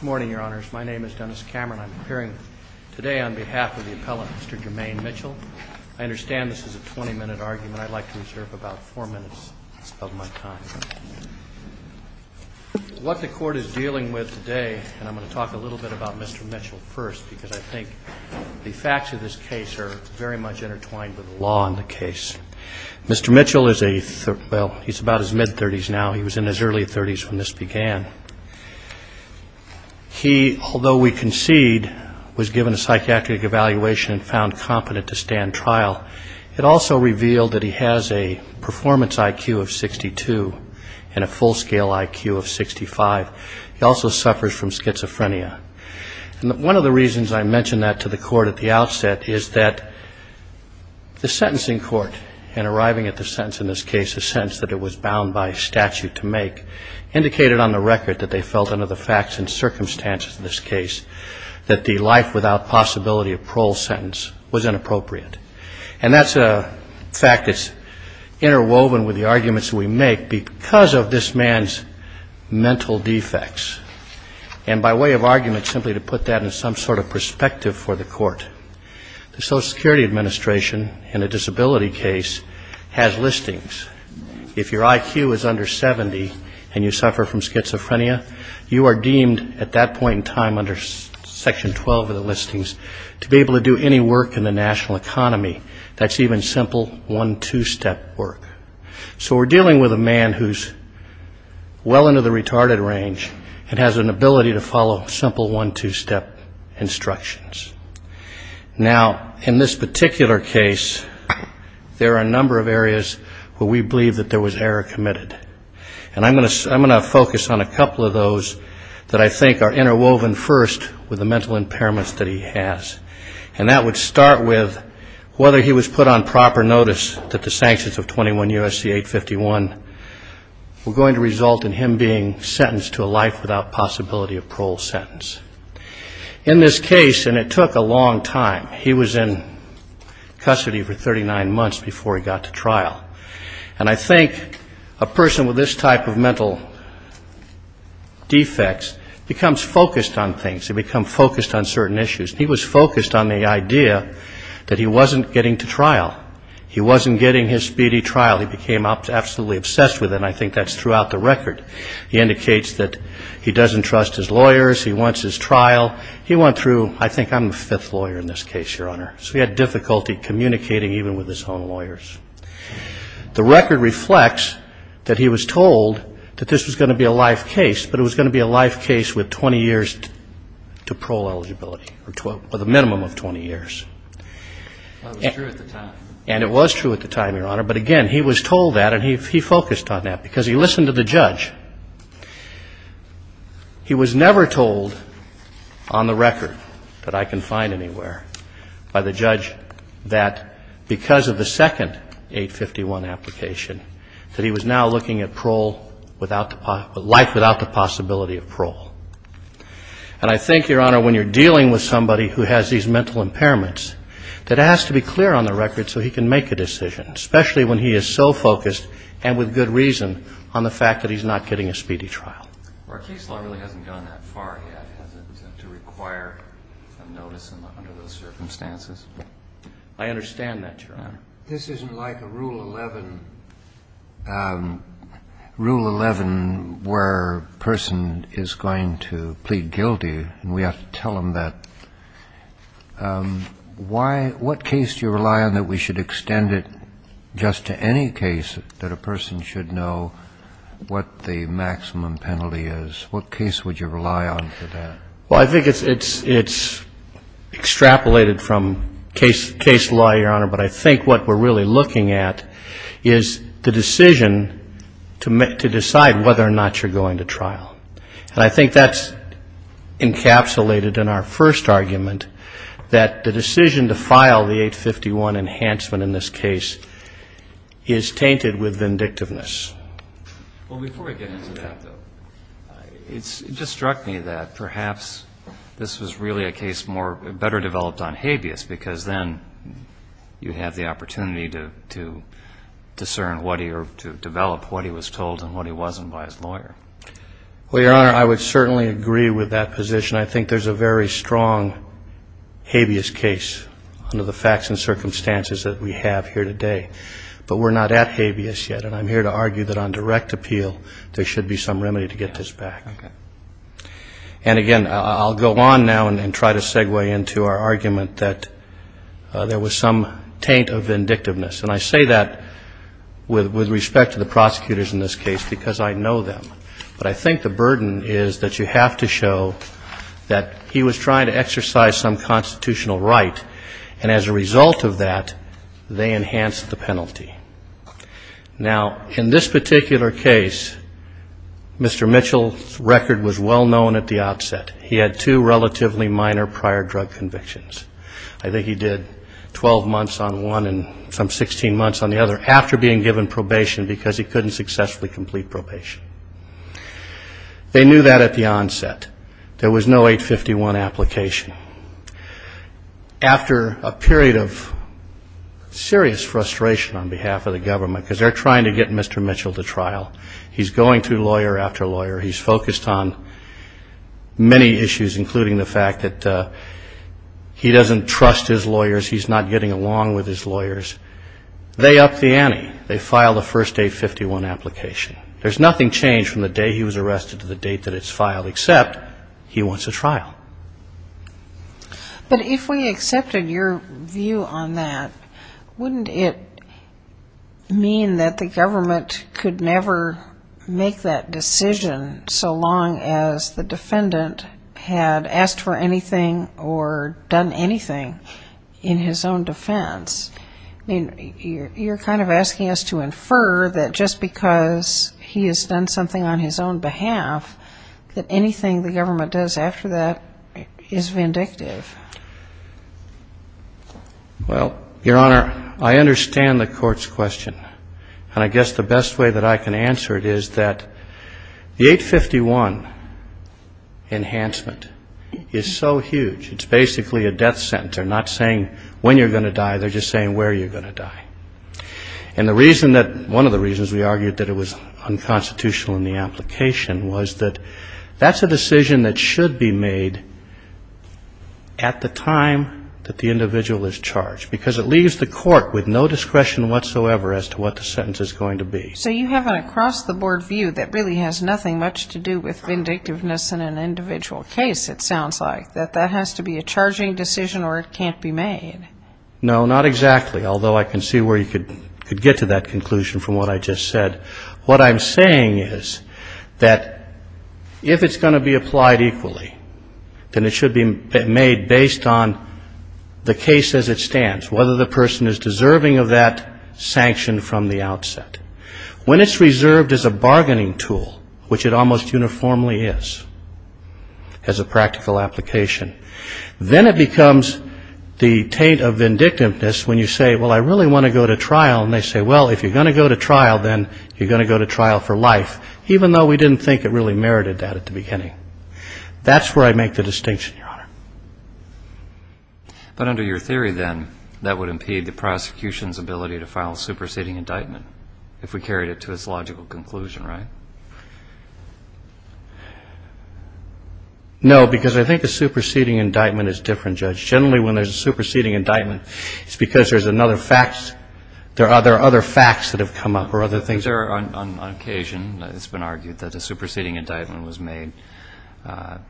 Good morning, Your Honors. My name is Dennis Cameron. I'm appearing today on behalf of the appellate, Mr. Jermaine Mitchell. I understand this is a 20-minute argument. I'd like to reserve about four minutes of my time. What the Court is dealing with today, and I'm going to talk a little bit about Mr. Mitchell first, because I think the facts of this case are very much intertwined with the law in the case. Mr. Mitchell is about his mid-30s now. He was in his early 30s when this began. He, although we concede, was given a psychiatric evaluation and found competent to stand trial. It also revealed that he has a performance IQ of 62 and a full-scale IQ of 65. He also suffers from schizophrenia. One of the reasons I mention that to the Court at the outset is that the sentencing court, in arriving at the sentence in this case, a sentence that it was bound by statute to make, indicated on the record that they felt under the facts and circumstances of this case that the life without possibility of parole sentence was inappropriate. And that's a fact that's interwoven with the arguments that we make because of this man's mental defects. And by way of argument, simply to put that in some sort of perspective for the Court, the Social Security Administration, in a disability case, has listings. If your IQ is under 70 and you suffer from schizophrenia, you are deemed at that point in time under Section 12 of the listings to be able to do any work in the national economy. That's even simple one-two-step work. So we're dealing with a man who's well into the retarded range and has an ability to follow simple one-two-step instructions. Now, in this particular case, there are a number of areas where we believe that there was error committed. And I'm going to focus on a couple of those that I think are interwoven first with the mental impairments that he has. And that would start with whether he was put on proper notice that the sanctions of 21 U.S.C. 851 were going to result in him being sentenced to a life without possibility of parole sentence. In this case, and it took a long time, he was in custody for 39 months before he got to trial. And I think a person with this type of mental defects becomes focused on things, they become focused on certain issues. He was focused on the idea that he wasn't getting to trial. He wasn't getting his speedy trial. He became absolutely obsessed with it, and I think that's throughout the record. He indicates that he doesn't trust his lawyers, he wants his trial. He went through, I think I'm the fifth lawyer in this case, Your Honor, so he had difficulty communicating even with his own lawyers. The record reflects that he was told that this was going to be a life case, but it was going to be a life case with 20 years to parole eligibility, or the minimum of 20 years. And it was true at the time, Your Honor, but again, he was told that and he focused on that because he listened to the judge. He was never told on the record that I can find anywhere by the judge that because of the second 851 application that he was now looking at life without the possibility of parole. And I think, Your Honor, when you're dealing with somebody who has these mental impairments, that it has to be clear on the record so he can make a decision, especially when he is so focused and with good reason on the fact that he's not getting a speedy trial. Our case law really hasn't gone that far yet, has it, to require a notice under those circumstances? I understand that, Your Honor. This isn't like a Rule 11 where a person is going to plead guilty and we have to tell them that. What case do you rely on that we should extend it just to any case that a person should know what the maximum penalty is? What case would you rely on for that? Well, I think it's extrapolated from case law, Your Honor, but I think what we're really looking at is the decision to decide whether or not you're going to trial. And I think that's encapsulated in our first argument, that the decision to file the 851 enhancement in this case is tainted with vindictiveness. Well, before we get into that, though, it just struck me that perhaps this was really a case better developed on habeas, because then you have the opportunity to discern or to develop what he was told and what he wasn't by his lawyer. Well, Your Honor, I would certainly agree with that position. I think there's a very strong habeas case under the facts and circumstances that we have here today. But we're not at habeas yet, and I'm here to argue that on direct appeal there should be some remedy to get this back. And again, I'll go on now and try to segue into our argument that there was some taint of vindictiveness. And I say that with respect to the prosecutors in this case because I know them. But I think the burden is that you have to show that he was trying to exercise some constitutional right, and as a result of that, they enhanced the penalty. Now, in this particular case, Mr. Mitchell's record was well known at the outset. He had two relatively minor prior drug convictions. I think he did 12 months on one and some 16 months on the other after being given probation because he couldn't successfully complete probation. They knew that at the onset. There was no 851 application. After a period of serious frustration on behalf of the government, because they're trying to get Mr. Mitchell to trial, he's going through lawyer after lawyer. He's focused on many issues, including the fact that he doesn't trust his lawyers. He's not getting along with his lawyers. They upped the ante. They filed the first 851 application. There's nothing changed from the day he was arrested to the date that it's filed, except he wants a trial. But if we accepted your view on that, wouldn't it mean that the government could never make that decision so long as the defendant had asked for anything or done anything in his own defense? I mean, you're kind of asking us to infer that just because he has done something on his own behalf, that anything the government does after that is vindictive. Well, Your Honor, I understand the court's question, and I guess the best way that I can answer it is that the 851 enhancement is so huge. It's basically a death sentence. They're not saying when you're going to die. They're just saying where you're going to die. And the reason that one of the reasons we argued that it was unconstitutional in the application was that that's a decision that should be made at the time that the individual is charged. Because it leaves the court with no discretion whatsoever as to what the sentence is going to be. So you have an across-the-board view that really has nothing much to do with vindictiveness in an individual case, it sounds like. That that has to be a charging decision or it can't be made. No, not exactly, although I can see where you could get to that conclusion from what I just said. What I'm saying is that if it's going to be applied equally, then it should be made based on the case as it stands, whether the person is deserving of that sanction from the outset. When it's reserved as a bargaining tool, which it almost uniformly is, as a practical application, then it should be applied equally. And then when it's made as a charging decision, then it becomes the taint of vindictiveness when you say, well, I really want to go to trial. And they say, well, if you're going to go to trial, then you're going to go to trial for life, even though we didn't think it really merited that at the beginning. That's where I make the distinction, Your Honor. But under your theory, then, that would impede the prosecution's ability to file a superseding indictment, if we carried it to its logical conclusion, right? No, because I think a superseding indictment is different, Judge. Generally, when there's a superseding indictment, it's because there are other facts that have come up or other things. On occasion, it's been argued that a superseding indictment was made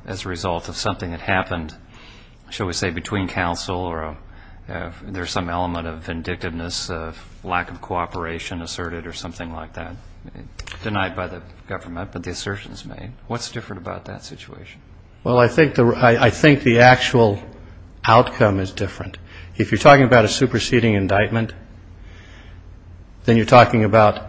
as a result of something that happened, shall we say, between counsel, or there's some element of vindictiveness, of lack of cooperation asserted or something like that, denied by the government, but the assertion is made. What's different about that situation? Well, I think the actual outcome is different. If you're talking about a superseding indictment, then you're talking about,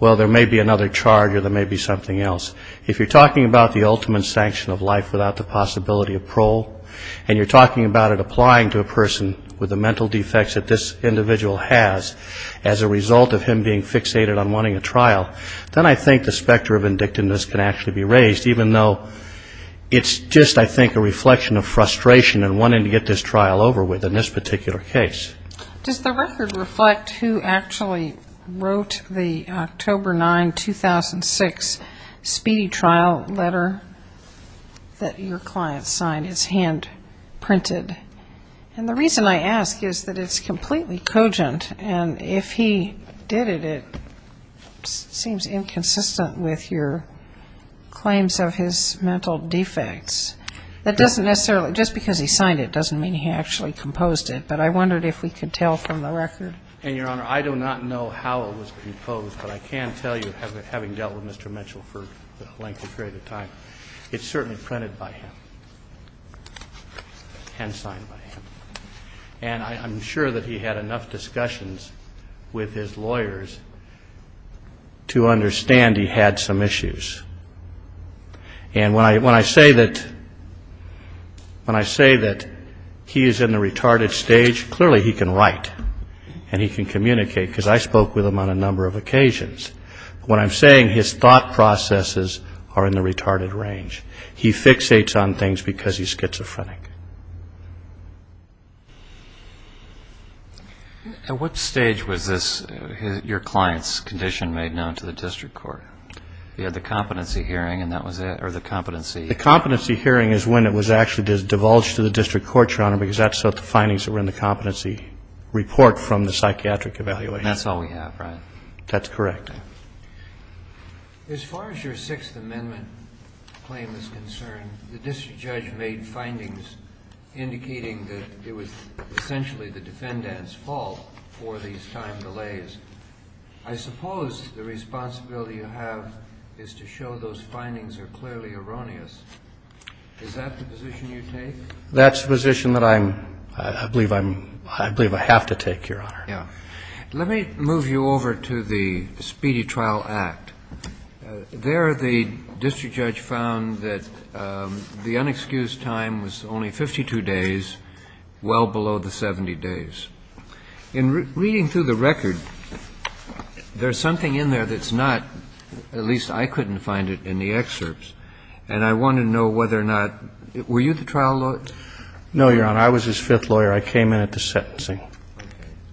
well, there may be another charge or there may be something else. If you're talking about the ultimate sanction of life without the possibility of parole, and you're talking about it applying to a person with the mental defects that this individual has, as a result of him being fixated on wanting a trial, then I think the specter of vindictiveness can actually be raised, even though it's just, I think, a reflection of frustration and wanting to get this trial over with in this particular case. Does the record reflect who actually wrote the October 9, 2006, speedy trial letter that your client signed? It's hand-printed. And if he did it, it seems inconsistent with your claims of his mental defects. That doesn't necessarily ñ just because he signed it doesn't mean he actually composed it, but I wondered if we could tell from the record. And, Your Honor, I do not know how it was composed, but I can tell you, having dealt with Mr. Mitchell for the length and period of time, it's certainly printed by him and signed by him. And I'm sure that he had enough discussions with his lawyers to understand he had some issues. And when I say that he is in the retarded stage, clearly he can write and he can communicate, because I spoke with him on a number of occasions. When I'm saying his thought processes are in the retarded range, he fixates on things because he's schizophrenic. At what stage was this, your client's condition, made known to the district court? He had the competency hearing and that was it, or the competency ñ The competency hearing is when it was actually divulged to the district court, Your Honor, because that's what the findings were in the competency report from the psychiatric evaluation. That's all we have, right? That's correct. As far as your Sixth Amendment claim is concerned, the district judge made findings indicating that it was essentially the defendant's fault for these time delays. I suppose the responsibility you have is to show those findings are clearly erroneous. Is that the position you take? That's the position that I believe I have to take, Your Honor. Let me move you over to the Speedy Trial Act. There the district judge found that the unexcused time was only 52 days, well below the 70 days. In reading through the record, there's something in there that's not, at least I couldn't find it in the excerpts, and I want to know whether or not ñ were you the trial lawyer? No, Your Honor, I was his fifth lawyer. I came in at the sentencing. Okay.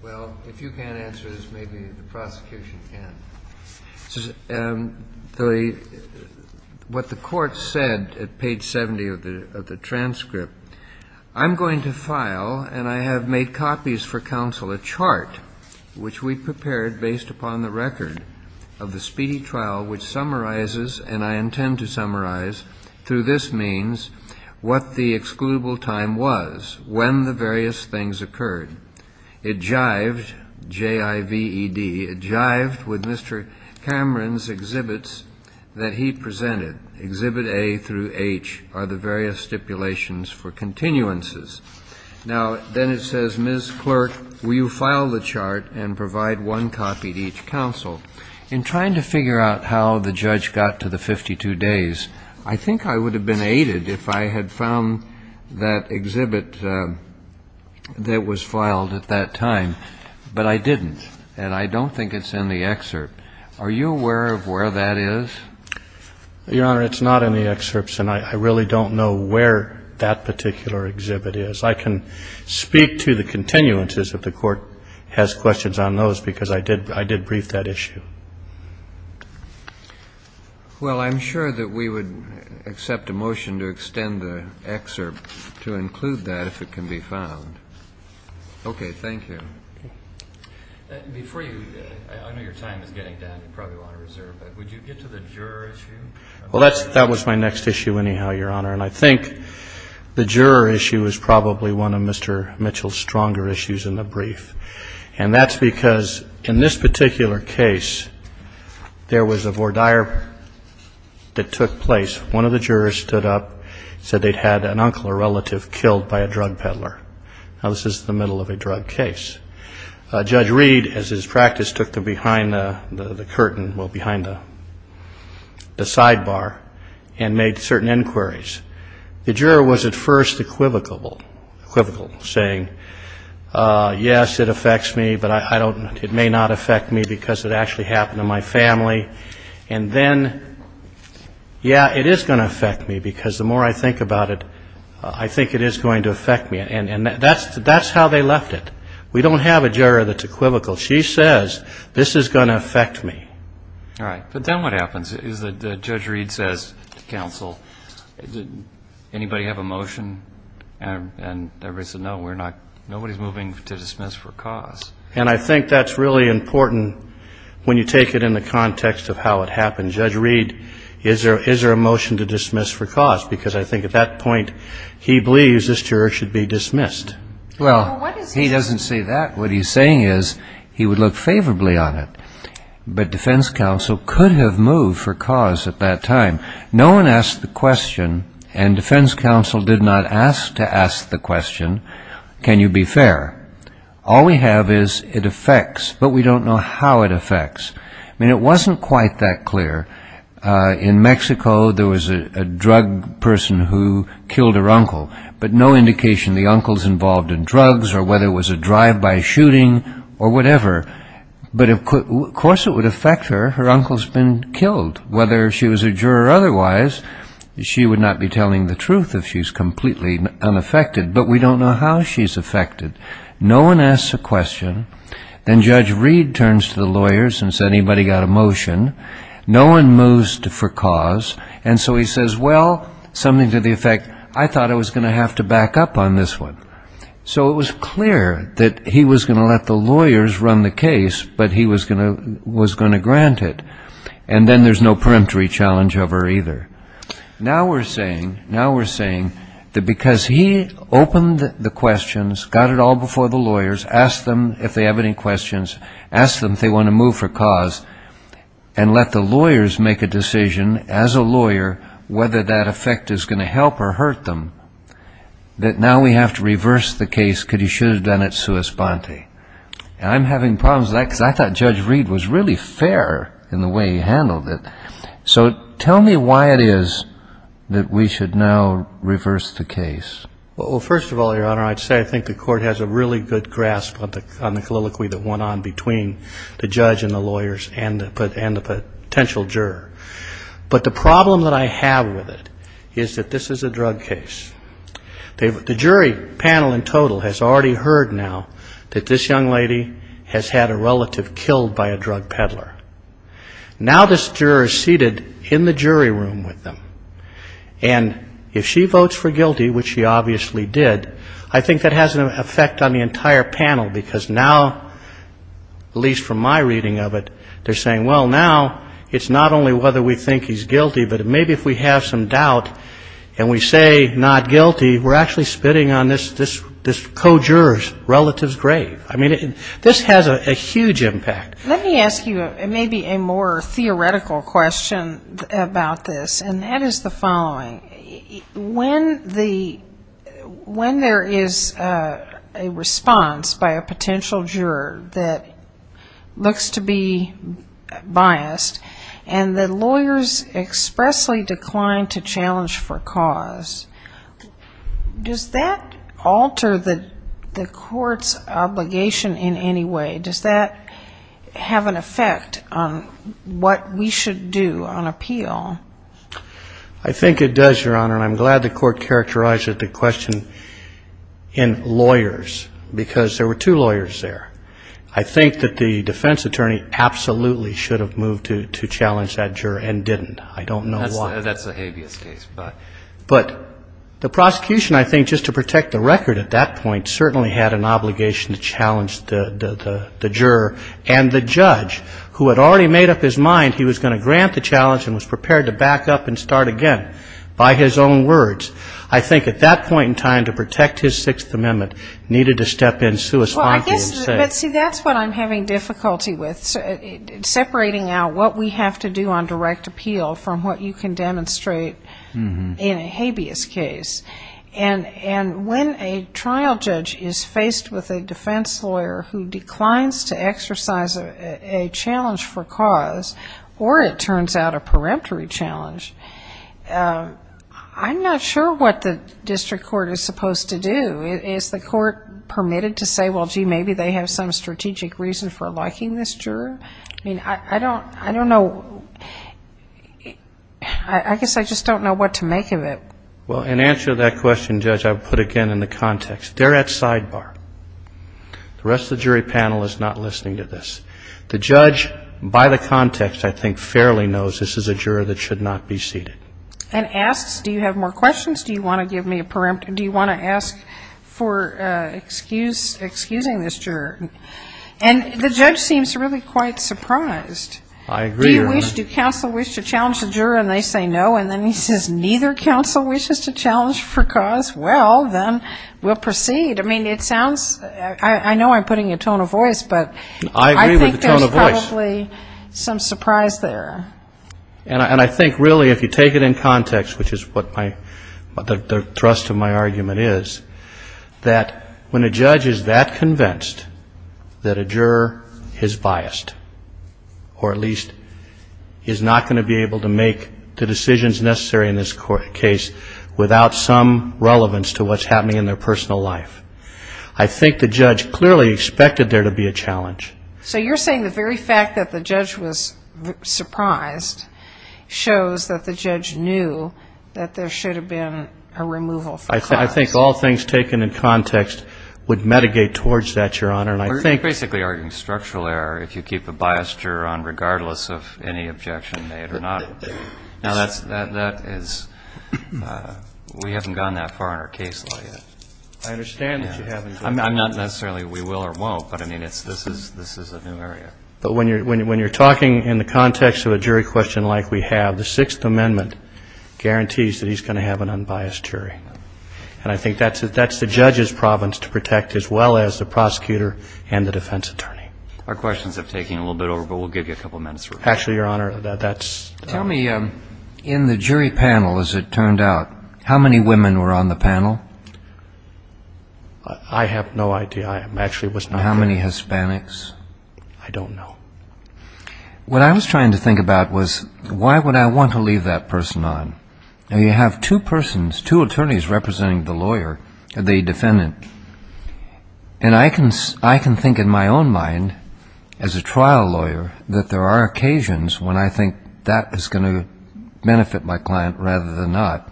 Well, if you can't answer this, maybe the prosecution can. This is what the court said at page 70 of the transcript. I'm going to file, and I have made copies for counsel, a chart which we prepared based upon the record of the speedy trial, which summarizes, and I intend to summarize through this means, what the excludable time was when the various things occurred. It jived, J-I-V-E-D, it jived with Mr. Cameron's exhibits that he presented. Exhibit A through H are the various stipulations for continuances. Now, then it says, Ms. Clerk, will you file the chart and provide one copy to each counsel? In trying to figure out how the judge got to the 52 days, I think I would have been aided if I had found that exhibit that was filed at that time. But I didn't, and I don't think it's in the excerpt. Are you aware of where that is? Your Honor, it's not in the excerpts, and I really don't know where that particular exhibit is. I can speak to the continuances if the court has questions on those, because I did brief that issue. Well, I'm sure that we would accept a motion to extend the excerpt to include that if it can be found. Okay, thank you. Before you, I know your time is getting down, you probably want to reserve, but would you get to the juror issue? Well, that was my next issue anyhow, Your Honor. And I think the juror issue is probably one of Mr. Mitchell's stronger issues in the brief. And that's because in this particular case, there was a voir dire that took place. One of the jurors stood up, said they'd had an uncle or relative killed by a drug peddler. Now, this is the middle of a drug case. Judge Reed, as his practice, took the behind the curtain, well, behind the sidebar, and made certain inquiries. The juror was at first equivocal, saying, yes, it affects me, but it may not affect me because it actually happened to my family. And then, yeah, it is going to affect me, because the more I think about it, I think it is going to affect me. And that's how they left it. We don't have a juror that's equivocal. She says, this is going to affect me. All right, but then what happens is that Judge Reed says to counsel, anybody have a motion? And everybody said, no, nobody's moving to dismiss for cause. And I think that's really important when you take it in the context of how it happened. Judge Reed, is there a motion to dismiss for cause? Because I think at that point, he believes this juror should be dismissed. Well, he doesn't say that. What he's saying is he would look favorably on it. But defense counsel could have moved for cause at that time. No one asked the question, and defense counsel did not ask to ask the question, can you be fair? All we have is it affects, but we don't know how it affects. I mean, it wasn't quite that clear. In Mexico, there was a drug person who killed her uncle, but no indication of the uncles involved in drugs, or whether it was a drive-by shooting, or whatever. But of course it would affect her, her uncle's been killed. Whether she was a juror or otherwise, she would not be telling the truth if she's completely unaffected. But we don't know how she's affected. No one asks a question, then Judge Reed turns to the lawyers and says, anybody got a motion? No one moves for cause. And so he says, well, something to the effect, I thought I was going to have to back up on this one. So it was clear that he was going to let the lawyers run the case, but he was going to grant it. And then there's no peremptory challenge of her either. Now we're saying that because he opened the questions, got it all before the lawyers, asked them if they have any questions, asked them if they want to move for cause, and let the lawyers make a decision as a lawyer whether that effect is going to help or hurt them, that now we have to reverse the case because he should have done it sua sponte. And I'm having problems with that because I thought Judge Reed was really fair in the way he handled it. So tell me why it is that we should now reverse the case. Well, first of all, Your Honor, I'd say I think the Court has a really good grasp on the colloquy that went on between the judge and the lawyers and the potential juror. But the problem that I have with it is that this is a drug case. The jury panel in total has already heard now that this young lady has had a relative killed by a drug peddler. Now this juror is seated in the jury room with them, and if she votes for guilty, which she obviously did, I think that has an effect on the entire panel because now, at least from my reading of it, they're saying, well, now it's not only whether we think he's guilty, but maybe if we have some doubt and we say not guilty, we're actually spitting on this co-juror's relative's grave. I mean, this has a huge impact. Let me ask you maybe a more theoretical question about this, and that is the following. When there is a response by a potential juror that looks to be not guilty, biased, and the lawyers expressly decline to challenge for cause, does that alter the court's obligation in any way? Does that have an effect on what we should do on appeal? I think it does, Your Honor, and I'm glad the court characterized the question in lawyers, because there were two lawyers there. I think that the defense attorney absolutely should have moved to challenge that juror and didn't. I don't know why. That's a habeas case. But the prosecution, I think, just to protect the record at that point, certainly had an obligation to challenge the juror, and the judge, who had already made up his mind he was going to grant the challenge and was prepared to back up and start again by his own words. But see, that's what I'm having difficulty with, separating out what we have to do on direct appeal from what you can demonstrate in a habeas case. And when a trial judge is faced with a defense lawyer who declines to exercise a challenge for cause, or it turns out a peremptory challenge, I'm not sure what the district court is supposed to do. Is the court permitted to say, well, gee, maybe they have some strategic reason for liking this juror? I mean, I don't know. I guess I just don't know what to make of it. Well, in answer to that question, Judge, I would put it again in the context. They're at sidebar. The rest of the jury panel is not listening to this. The judge, by the context, I think fairly knows this is a juror that should not be seated. And asks, do you have more questions, do you want to give me a peremptory, do you want to ask for excusing this juror? And the judge seems really quite surprised. I agree. Do counsel wish to challenge the juror, and they say no, and then he says neither counsel wishes to challenge for cause? Well, then we'll proceed. I mean, it sounds, I know I'm putting a tone of voice, but I think there's probably some surprise there. And I think, really, if you take it in context, which is what the thrust of my argument is, that when a judge is that is not going to be able to make the decisions necessary in this case without some relevance to what's happening in their personal life. I think the judge clearly expected there to be a challenge. So you're saying the very fact that the judge was surprised shows that the judge knew that there should have been a removal for cause? I think all things taken in context would mitigate towards that, Your Honor. We're basically arguing structural error if you keep a biased juror on regardless of any objection made or not. Now, that is, we haven't gone that far in our case law yet. I understand that you haven't. I'm not necessarily we will or won't, but I mean, this is a new area. But when you're talking in the context of a jury question like we have, the Sixth Amendment guarantees that he's going to have an unbiased jury. And I think that's the judge's province to protect as well as the prosecutor and the defense attorney. Our questions have taken a little bit over, but we'll give you a couple minutes. Tell me, in the jury panel, as it turned out, how many women were on the panel? I have no idea. How many Hispanics? I don't know. What I was trying to think about was why would I want to leave that person on? Now, you have two persons, two attorneys representing the lawyer, the defendant. And I can think in my own mind, as a trial lawyer, that there are occasions when I think that is going to benefit my client rather than not.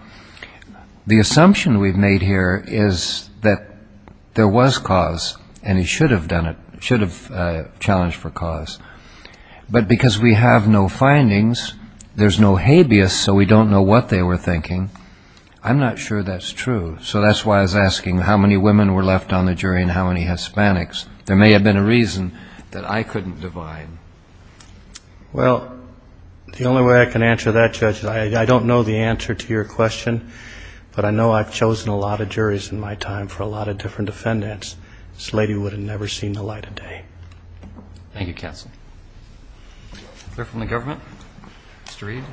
The assumption we've made here is that there was cause, and he should have done it, should have challenged for cause. But because we have no findings, there's no habeas, so we don't know what they were thinking. I'm not sure that's true, so that's why I was asking how many women were left on the jury and how many Hispanics. There may have been a reason that I couldn't divide. Well, the only way I can answer that, Judge, is I don't know the answer to your question. But I know I've chosen a lot of juries in my time for a lot of different defendants. This lady would have never seen the light of day. Clear from the government? Mr. Reed?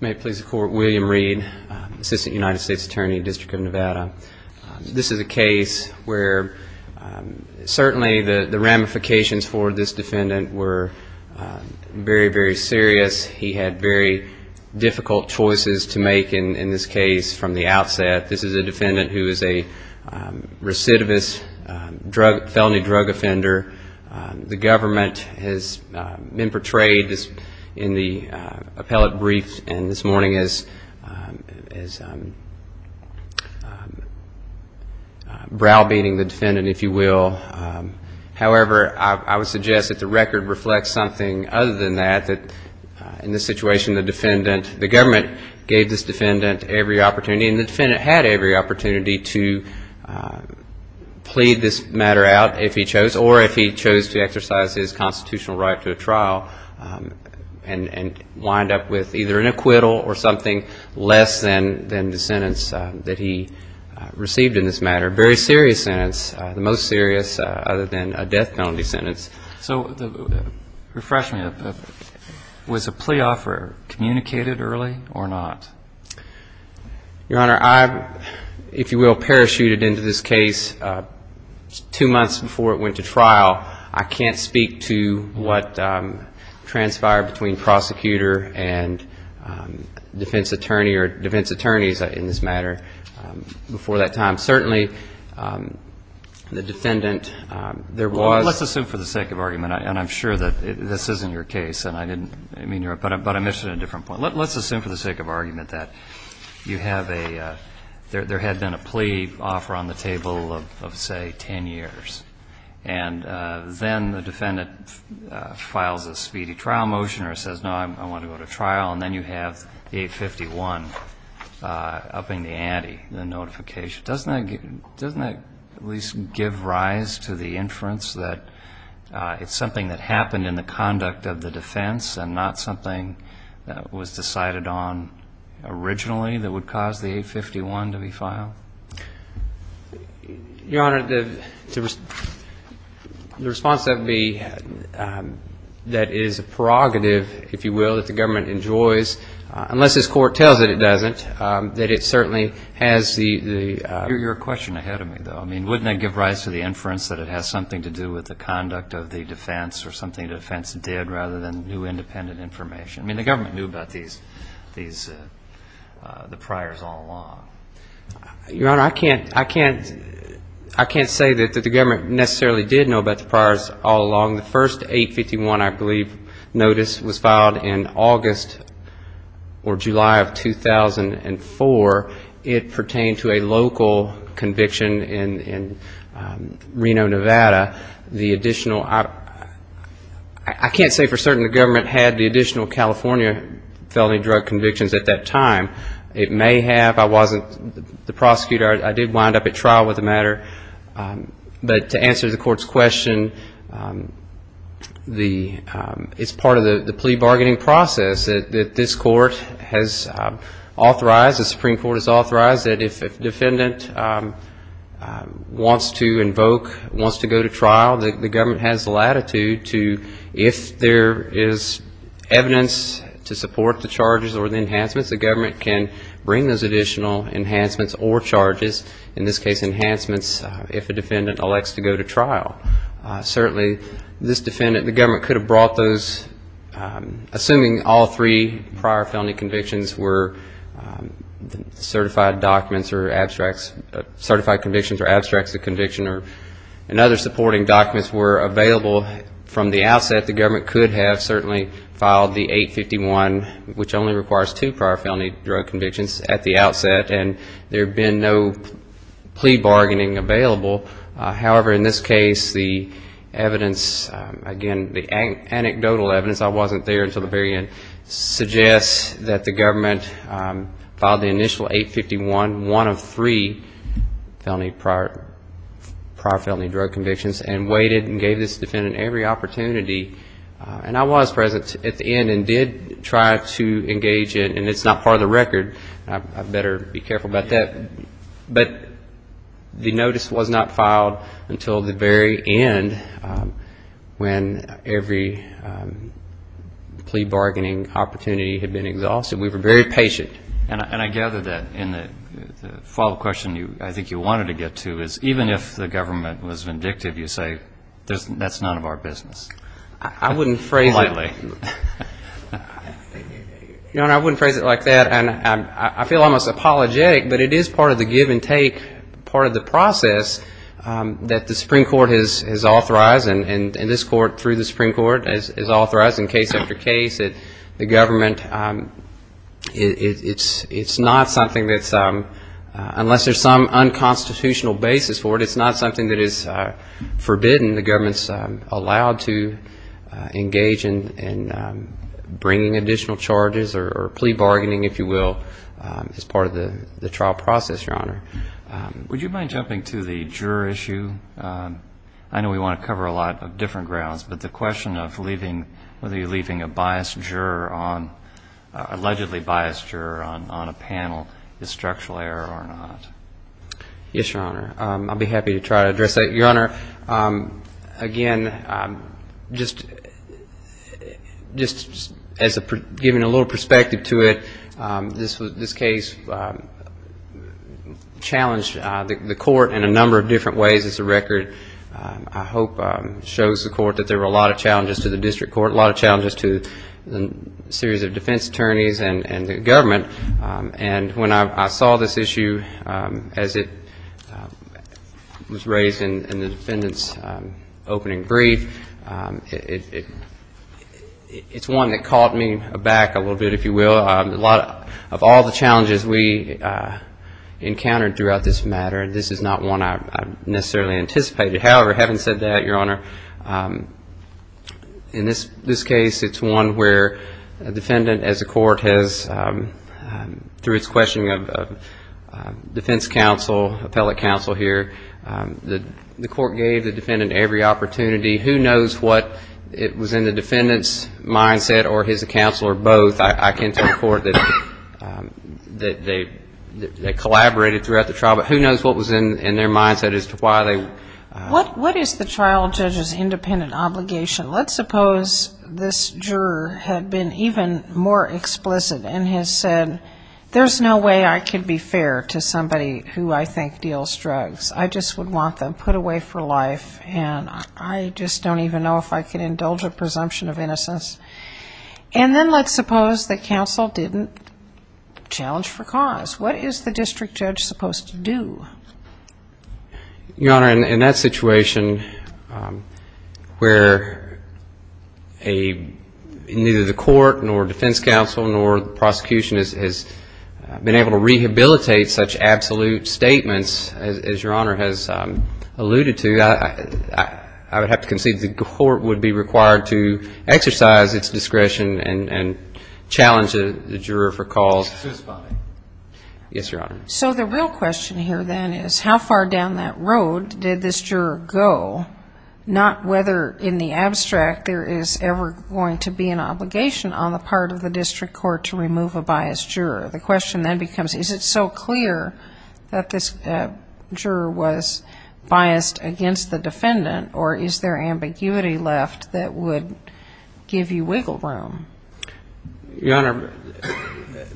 May it please the Court, William Reed, Assistant United States Attorney, District of Nevada. This is a case where certainly the ramifications for this defendant were very, very serious. He had very difficult choices to make in this case from the outset. This is a defendant who is a recidivist felony drug offender. The government has been portrayed in the appellate brief and this morning as a very serious case. Browbeating the defendant, if you will. However, I would suggest that the record reflects something other than that, that in this situation the defendant, the government, gave this defendant every opportunity. And the defendant had every opportunity to plead this matter out if he chose, or if he chose to exercise his constitutional right to a trial and wind up with either an acquittal or something less than the sentence that he chose. Very serious sentence, the most serious other than a death penalty sentence. So refresh me, was a plea offer communicated early or not? Your Honor, I, if you will, parachuted into this case two months before it went to trial. I can't speak to what transpired between prosecutor and defense attorney or defense attorneys in this matter before the trial. I can't speak to that, Tom. Certainly the defendant, there was. Well, let's assume for the sake of argument, and I'm sure that this isn't your case, and I didn't mean to interrupt, but I'm interested in a different point. Let's assume for the sake of argument that you have a, there had been a plea offer on the table of, say, 10 years. And then the defendant files a speedy trial motion or says, no, I want to go to trial. Doesn't that give, doesn't that at least give rise to the inference that it's something that happened in the conduct of the defense and not something that was decided on originally that would cause the 851 to be filed? Your Honor, the response that would be, that is a prerogative, if you will, that the government enjoys, unless this Court tells it it doesn't, that it certainly has the. Your question ahead of me, though, I mean, wouldn't that give rise to the inference that it has something to do with the conduct of the defense or something the defense did rather than new independent information? I mean, the government knew about these, the priors all along. Your Honor, I can't, I can't, I can't say that the government necessarily did know about the priors all along. The first 851, I believe, notice was filed in August or July of 2008. And four, it pertained to a local conviction in Reno, Nevada. The additional, I can't say for certain the government had the additional California felony drug convictions at that time. It may have. I wasn't the prosecutor. I did wind up at trial with the matter. But to answer the Court's question, the, it's part of the plea bargaining process that this Court has authorized, the Supreme Court has authorized, that if a defendant wants to invoke, wants to go to trial, the government has latitude to, if there is evidence to support the charges or the enhancements, the government can bring those additional enhancements or charges, in this case enhancements, if a defendant elects to go to trial. Certainly, this defendant, the government could have brought those, assuming all three prior felony convictions were certified documents or abstracts, certified convictions or abstracts of conviction and other supporting documents were available from the outset, the government could have certainly filed the 851, which only requires two prior felony drug convictions at the outset and there had been no plea bargaining available. However, in this case, the evidence, again, the anecdotal evidence, I wasn't there until the very end, suggests that the government filed the initial 851, one of three felony prior, prior felony drug convictions and waited and gave this defendant every opportunity to engage in, and I was present at the end and did try to engage in, and it's not part of the record, I better be careful about that, but the notice was not filed until the very end when every plea bargaining opportunity had been exhausted. We were very patient. And I gather that in the follow-up question I think you wanted to get to is even if the government was vindictive, you say that's none of our business. I wouldn't phrase it like that, and I feel almost apologetic, but it is part of the give and take part of the process that the Supreme Court has authorized and this Court through the Supreme Court has authorized in case after case that the government, it's not something that's, unless there's some unconstitutional basis for it, it's not something that is forbidden. The government's allowed to engage in bringing additional charges or plea bargaining, if you will, as part of the trial process, Your Honor. Would you mind jumping to the juror issue? I know we want to cover a lot of different grounds, but the question of whether you're leaving a biased juror on, allegedly biased juror on a panel is structural error or not. Yes, Your Honor. I'll be happy to try to address that. Your Honor, again, just as giving a little perspective to it, this case challenged the court in a number of different ways as the record I hope shows the court that there were a lot of challenges to the district court, a lot of challenges to a series of defense attorneys and the government. And when I saw this issue as it was raised in the defendant's opening brief, it's one that caught me aback a little bit, if you will. A lot of all the challenges we encountered throughout this matter, this is not one I necessarily anticipated. However, having said that, Your Honor, in this case, it's one where a defendant as a court has a lot of challenges to the district court. Through its questioning of defense counsel, appellate counsel here, the court gave the defendant every opportunity. Who knows what it was in the defendant's mindset or his counsel or both, I can tell the court, that they collaborated throughout the trial, but who knows what was in their mindset as to why they... What is the trial judge's independent obligation? Let's suppose this juror had been even more explicit and has said, you know, there's no way I could be fair to somebody who I think deals drugs. I just would want them put away for life, and I just don't even know if I could indulge a presumption of innocence. And then let's suppose the counsel didn't challenge for cause. What is the district judge supposed to do? Your Honor, in that situation, where neither the court nor defense counsel nor the prosecution has done their best to rehabilitate such absolute statements, as Your Honor has alluded to, I would have to concede the court would be required to exercise its discretion and challenge the juror for cause. Yes, Your Honor. So the real question here then is how far down that road did this juror go, not whether in the abstract there is ever going to be an obligation on the part of the district court to remove a biased juror? The question then becomes, is it so clear that this juror was biased against the defendant, or is there ambiguity left that would give you wiggle room? Your Honor,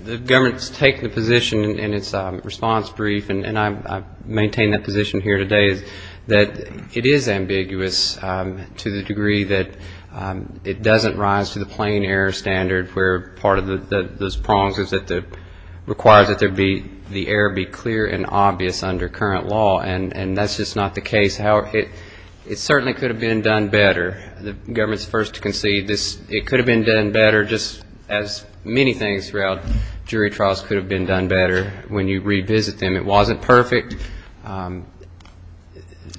the government has taken a position in its response brief, and I maintain that position here today, that it is standard, where part of those prongs is that it requires that the error be clear and obvious under current law. And that's just not the case. It certainly could have been done better. The government is the first to concede this. It could have been done better, just as many things throughout jury trials could have been done better when you revisit them. It wasn't perfect. Do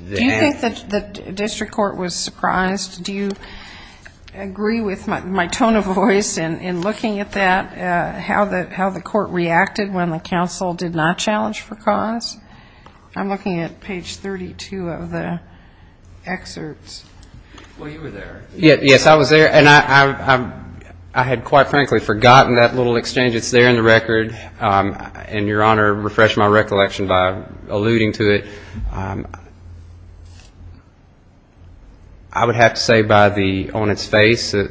you think that the district court was surprised? Do you agree with my tone of voice? And in looking at that, how the court reacted when the counsel did not challenge for cause? I'm looking at page 32 of the excerpts. Well, you were there. Yes, I was there. And I had quite frankly forgotten that little exchange that's there in the record. And, Your Honor, refresh my recollection by saying that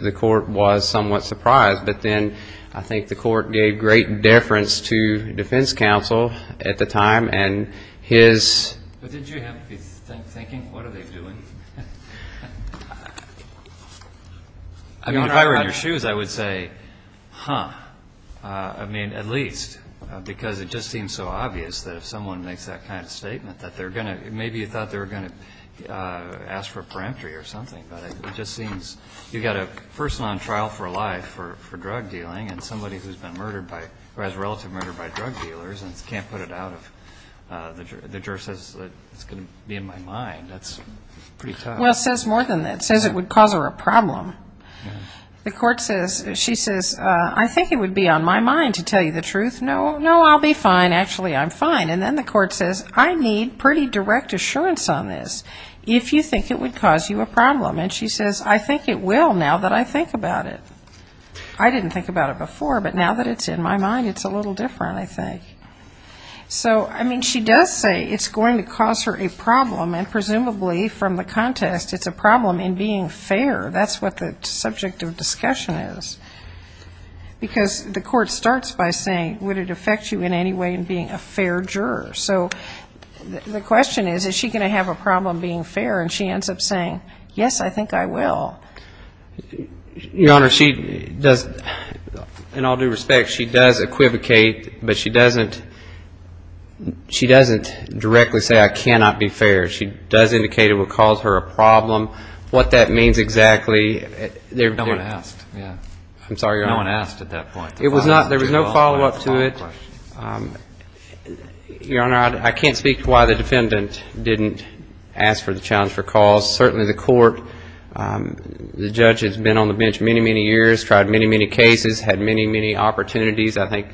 the court was somewhat surprised. But then I think the court gave great deference to defense counsel at the time, and his But did you have to be thinking, what are they doing? I mean, if I were in your shoes, I would say, huh. I mean, at least. Because it just seems so obvious that if someone makes that kind of Maybe you thought they were going to ask for a peremptory or something. But it just seems, you've got a person on trial for life for drug dealing, and somebody who's been murdered by, or has relative murder by drug dealers, and can't put it out, the juror says, it's going to be in my mind. That's pretty tough. Well, it says more than that. It says it would cause her a problem. The court says, she says, I think it would be on my mind to tell you the truth. No, no, I'll be fine. Actually, I'm fine. And then the court says, I need pretty direct assurance on this, if you think it would cause you a problem. And she says, I think it will, now that I think about it. I didn't think about it before, but now that it's in my mind, it's a little different, I think. So, I mean, she does say it's going to cause her a problem, and presumably, from the contest, it's a problem in being fair. That's what the subject of discussion is. Because the court starts by saying, would it affect you in any way in being a fair juror? So, the question is, is she going to have a problem being fair? And she ends up saying, yes, I think I will. Your Honor, she does, in all due respect, she does equivocate, but she doesn't directly say, I cannot be fair. She does indicate it would cause her a problem. What that means exactly. No one asked. There was no follow-up to it. Your Honor, I can't speak to why the defendant didn't ask for the challenge for cause. Certainly the court, the judge has been on the bench many, many years, tried many, many cases, had many, many opportunities. I think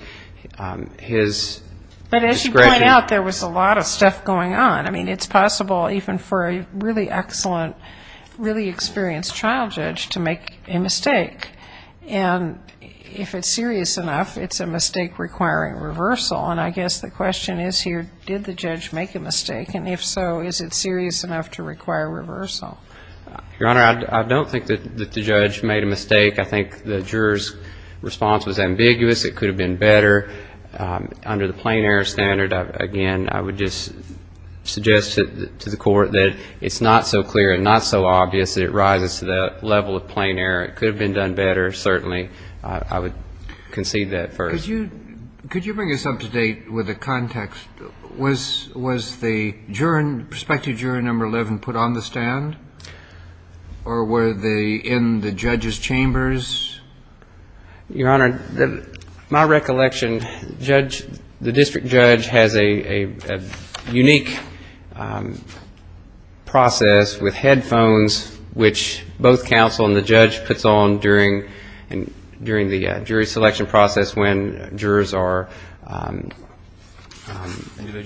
his discretion. But as you point out, there was a lot of stuff going on. I mean, it's possible even for a really excellent, really experienced child judge to make a mistake. And if it's serious enough, it's a mistake requiring reversal. And I guess the question is here, did the judge make a mistake? And if so, is it serious enough to require reversal? Your Honor, I don't think that the judge made a mistake. I think the juror's response was ambiguous. It could have been better under the plain error standard. Again, I would just suggest to the court that it's not so clear and not so obvious that it rises to that level of plain error. It could have been done better, certainly. I would concede that first. Could you bring us up to date with the context? Was the juror, prospective juror number 11, put on the stand? Or were they in the judge's chambers? Your Honor, my recollection, the district judge has a unique process with headphones, which both counsel and the judge puts on during the jury selection process when jurors are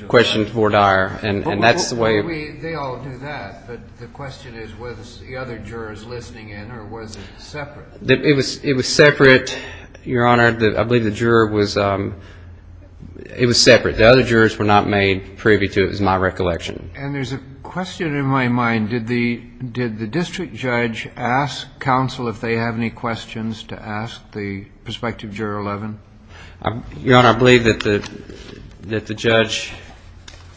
questioned for dire. And that's the way we do that. But the question is, was the other jurors listening in, or was it separate? It was separate, Your Honor. I believe the juror was separate. The other jurors were not made privy to it, is my recollection. And there's a question in my mind. Did the district judge ask counsel if they have any questions to ask the prospective juror 11? Your Honor, I believe that the judge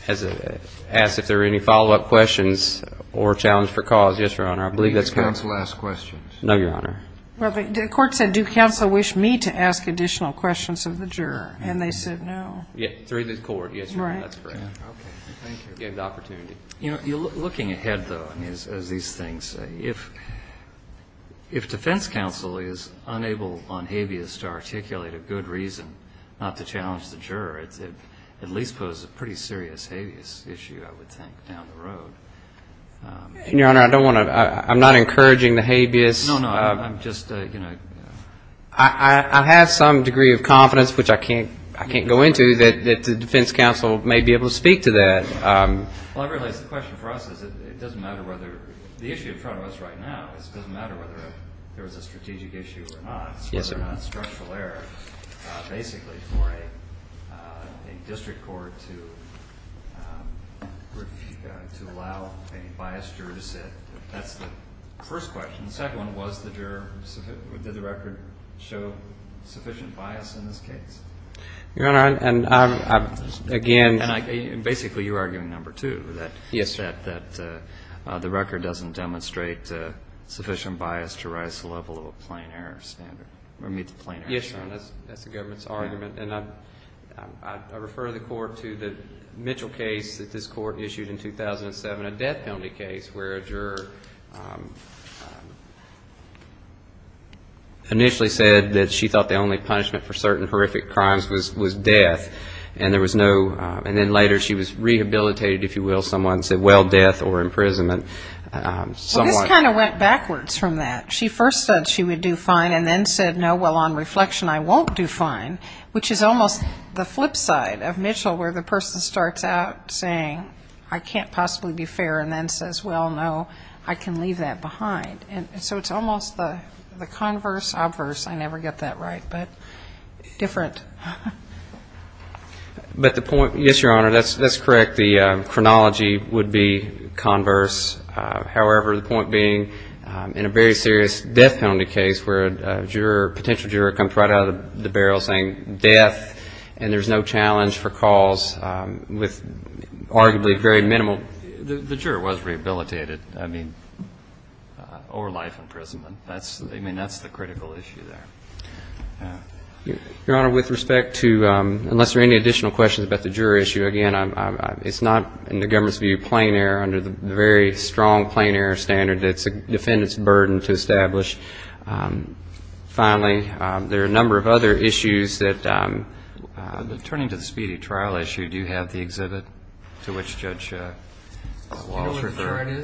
asked if there were any follow-up questions or challenge for cause. Yes, Your Honor. Did counsel ask questions? No, Your Honor. The court said, do counsel wish me to ask additional questions of the juror? And they said no. Looking ahead, though, as these things say, if defense counsel is unable on habeas to articulate a good reason not to challenge the juror, I'm not encouraging the habeas. I have some degree of confidence, which I can't go into, that the defense counsel may be able to speak to that. Well, I realize the question for us is it doesn't matter whether the issue in front of us right now, it doesn't matter whether there was a strategic issue or not. It's whether or not structural error, basically, for a district court to allow a biased juror to sit, that's the first question. The second one, was the juror, did the record show sufficient bias in this case? Your Honor, and again, Basically, you're arguing number two, that the record doesn't demonstrate sufficient bias to rise to the level of a plain error standard, or meet the plain error standard. I refer the court to the Mitchell case that this court issued in 2007, a death penalty case, where a juror initially said that she thought the only punishment for certain horrific crimes was death, and then later she was rehabilitated, if you will, someone said, well, death or imprisonment. This kind of went backwards from that. She first said she would do fine, and then said, no, well, on reflection, I won't do fine, which is almost the flip side of Mitchell, where the person starts out saying, I can't possibly be fair, and then says, well, no, I can leave that behind. So it's almost the converse, obverse, I never get that right, but different. But the point, yes, Your Honor, that's correct, the chronology would be converse. However, the point being, in a very serious death penalty case where a juror, potential juror comes right out of the barrel saying death, and there's no challenge for cause with arguably very minimal. The juror was rehabilitated. I mean, or life imprisonment. I mean, that's the critical issue there. Your Honor, with respect to, unless there are any additional questions about the juror issue, again, it's not, in the government's view, plain error under the very strong plain error standard. It's a defendant's burden to establish. Finally, there are a number of other issues that, turning to the speedy trial issue, do you have the exhibit to which Judge Wallace referred?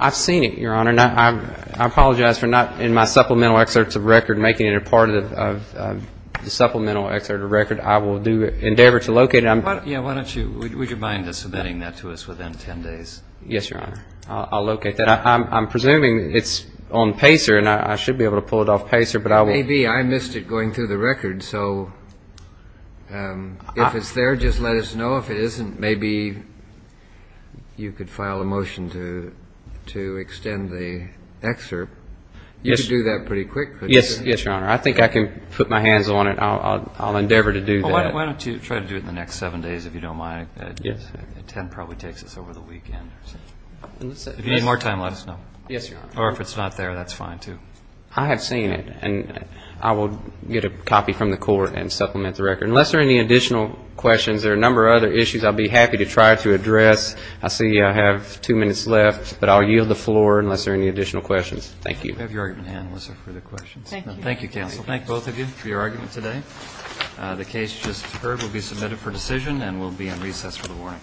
I've seen it, Your Honor. I apologize for not, in my supplemental excerpts of record, making it a part of the supplemental excerpt of record. I will do, endeavor to locate it. Yeah, why don't you, would you mind submitting that to us within 10 days? Yes, Your Honor. I'll locate that. I'm presuming it's on PACER, and I should be able to pull it off PACER, but I won't. Maybe. I missed it going through the record. So if it's there, just let us know. If it isn't, maybe you could file a motion to extend the excerpt. You could do that pretty quick. Yes, Your Honor. I think I can put my hands on it. I'll endeavor to do that. Why don't you try to do it in the next seven days, if you don't mind? Yes. Ten probably takes us over the weekend. If you need more time, let us know. Yes, Your Honor. Or if it's not there, that's fine, too. I have seen it, and I will get a copy from the court and supplement the record. Unless there are any additional questions, there are a number of other issues I'll be happy to try to address. I see I have two minutes left, but I'll yield the floor unless there are any additional questions. Thank you. We have your argument hand, Melissa, for the questions. Thank you. Thank you, counsel. We'll thank both of you for your argument today. The case just deferred will be submitted for decision and will be in recess for the morning. Thank you.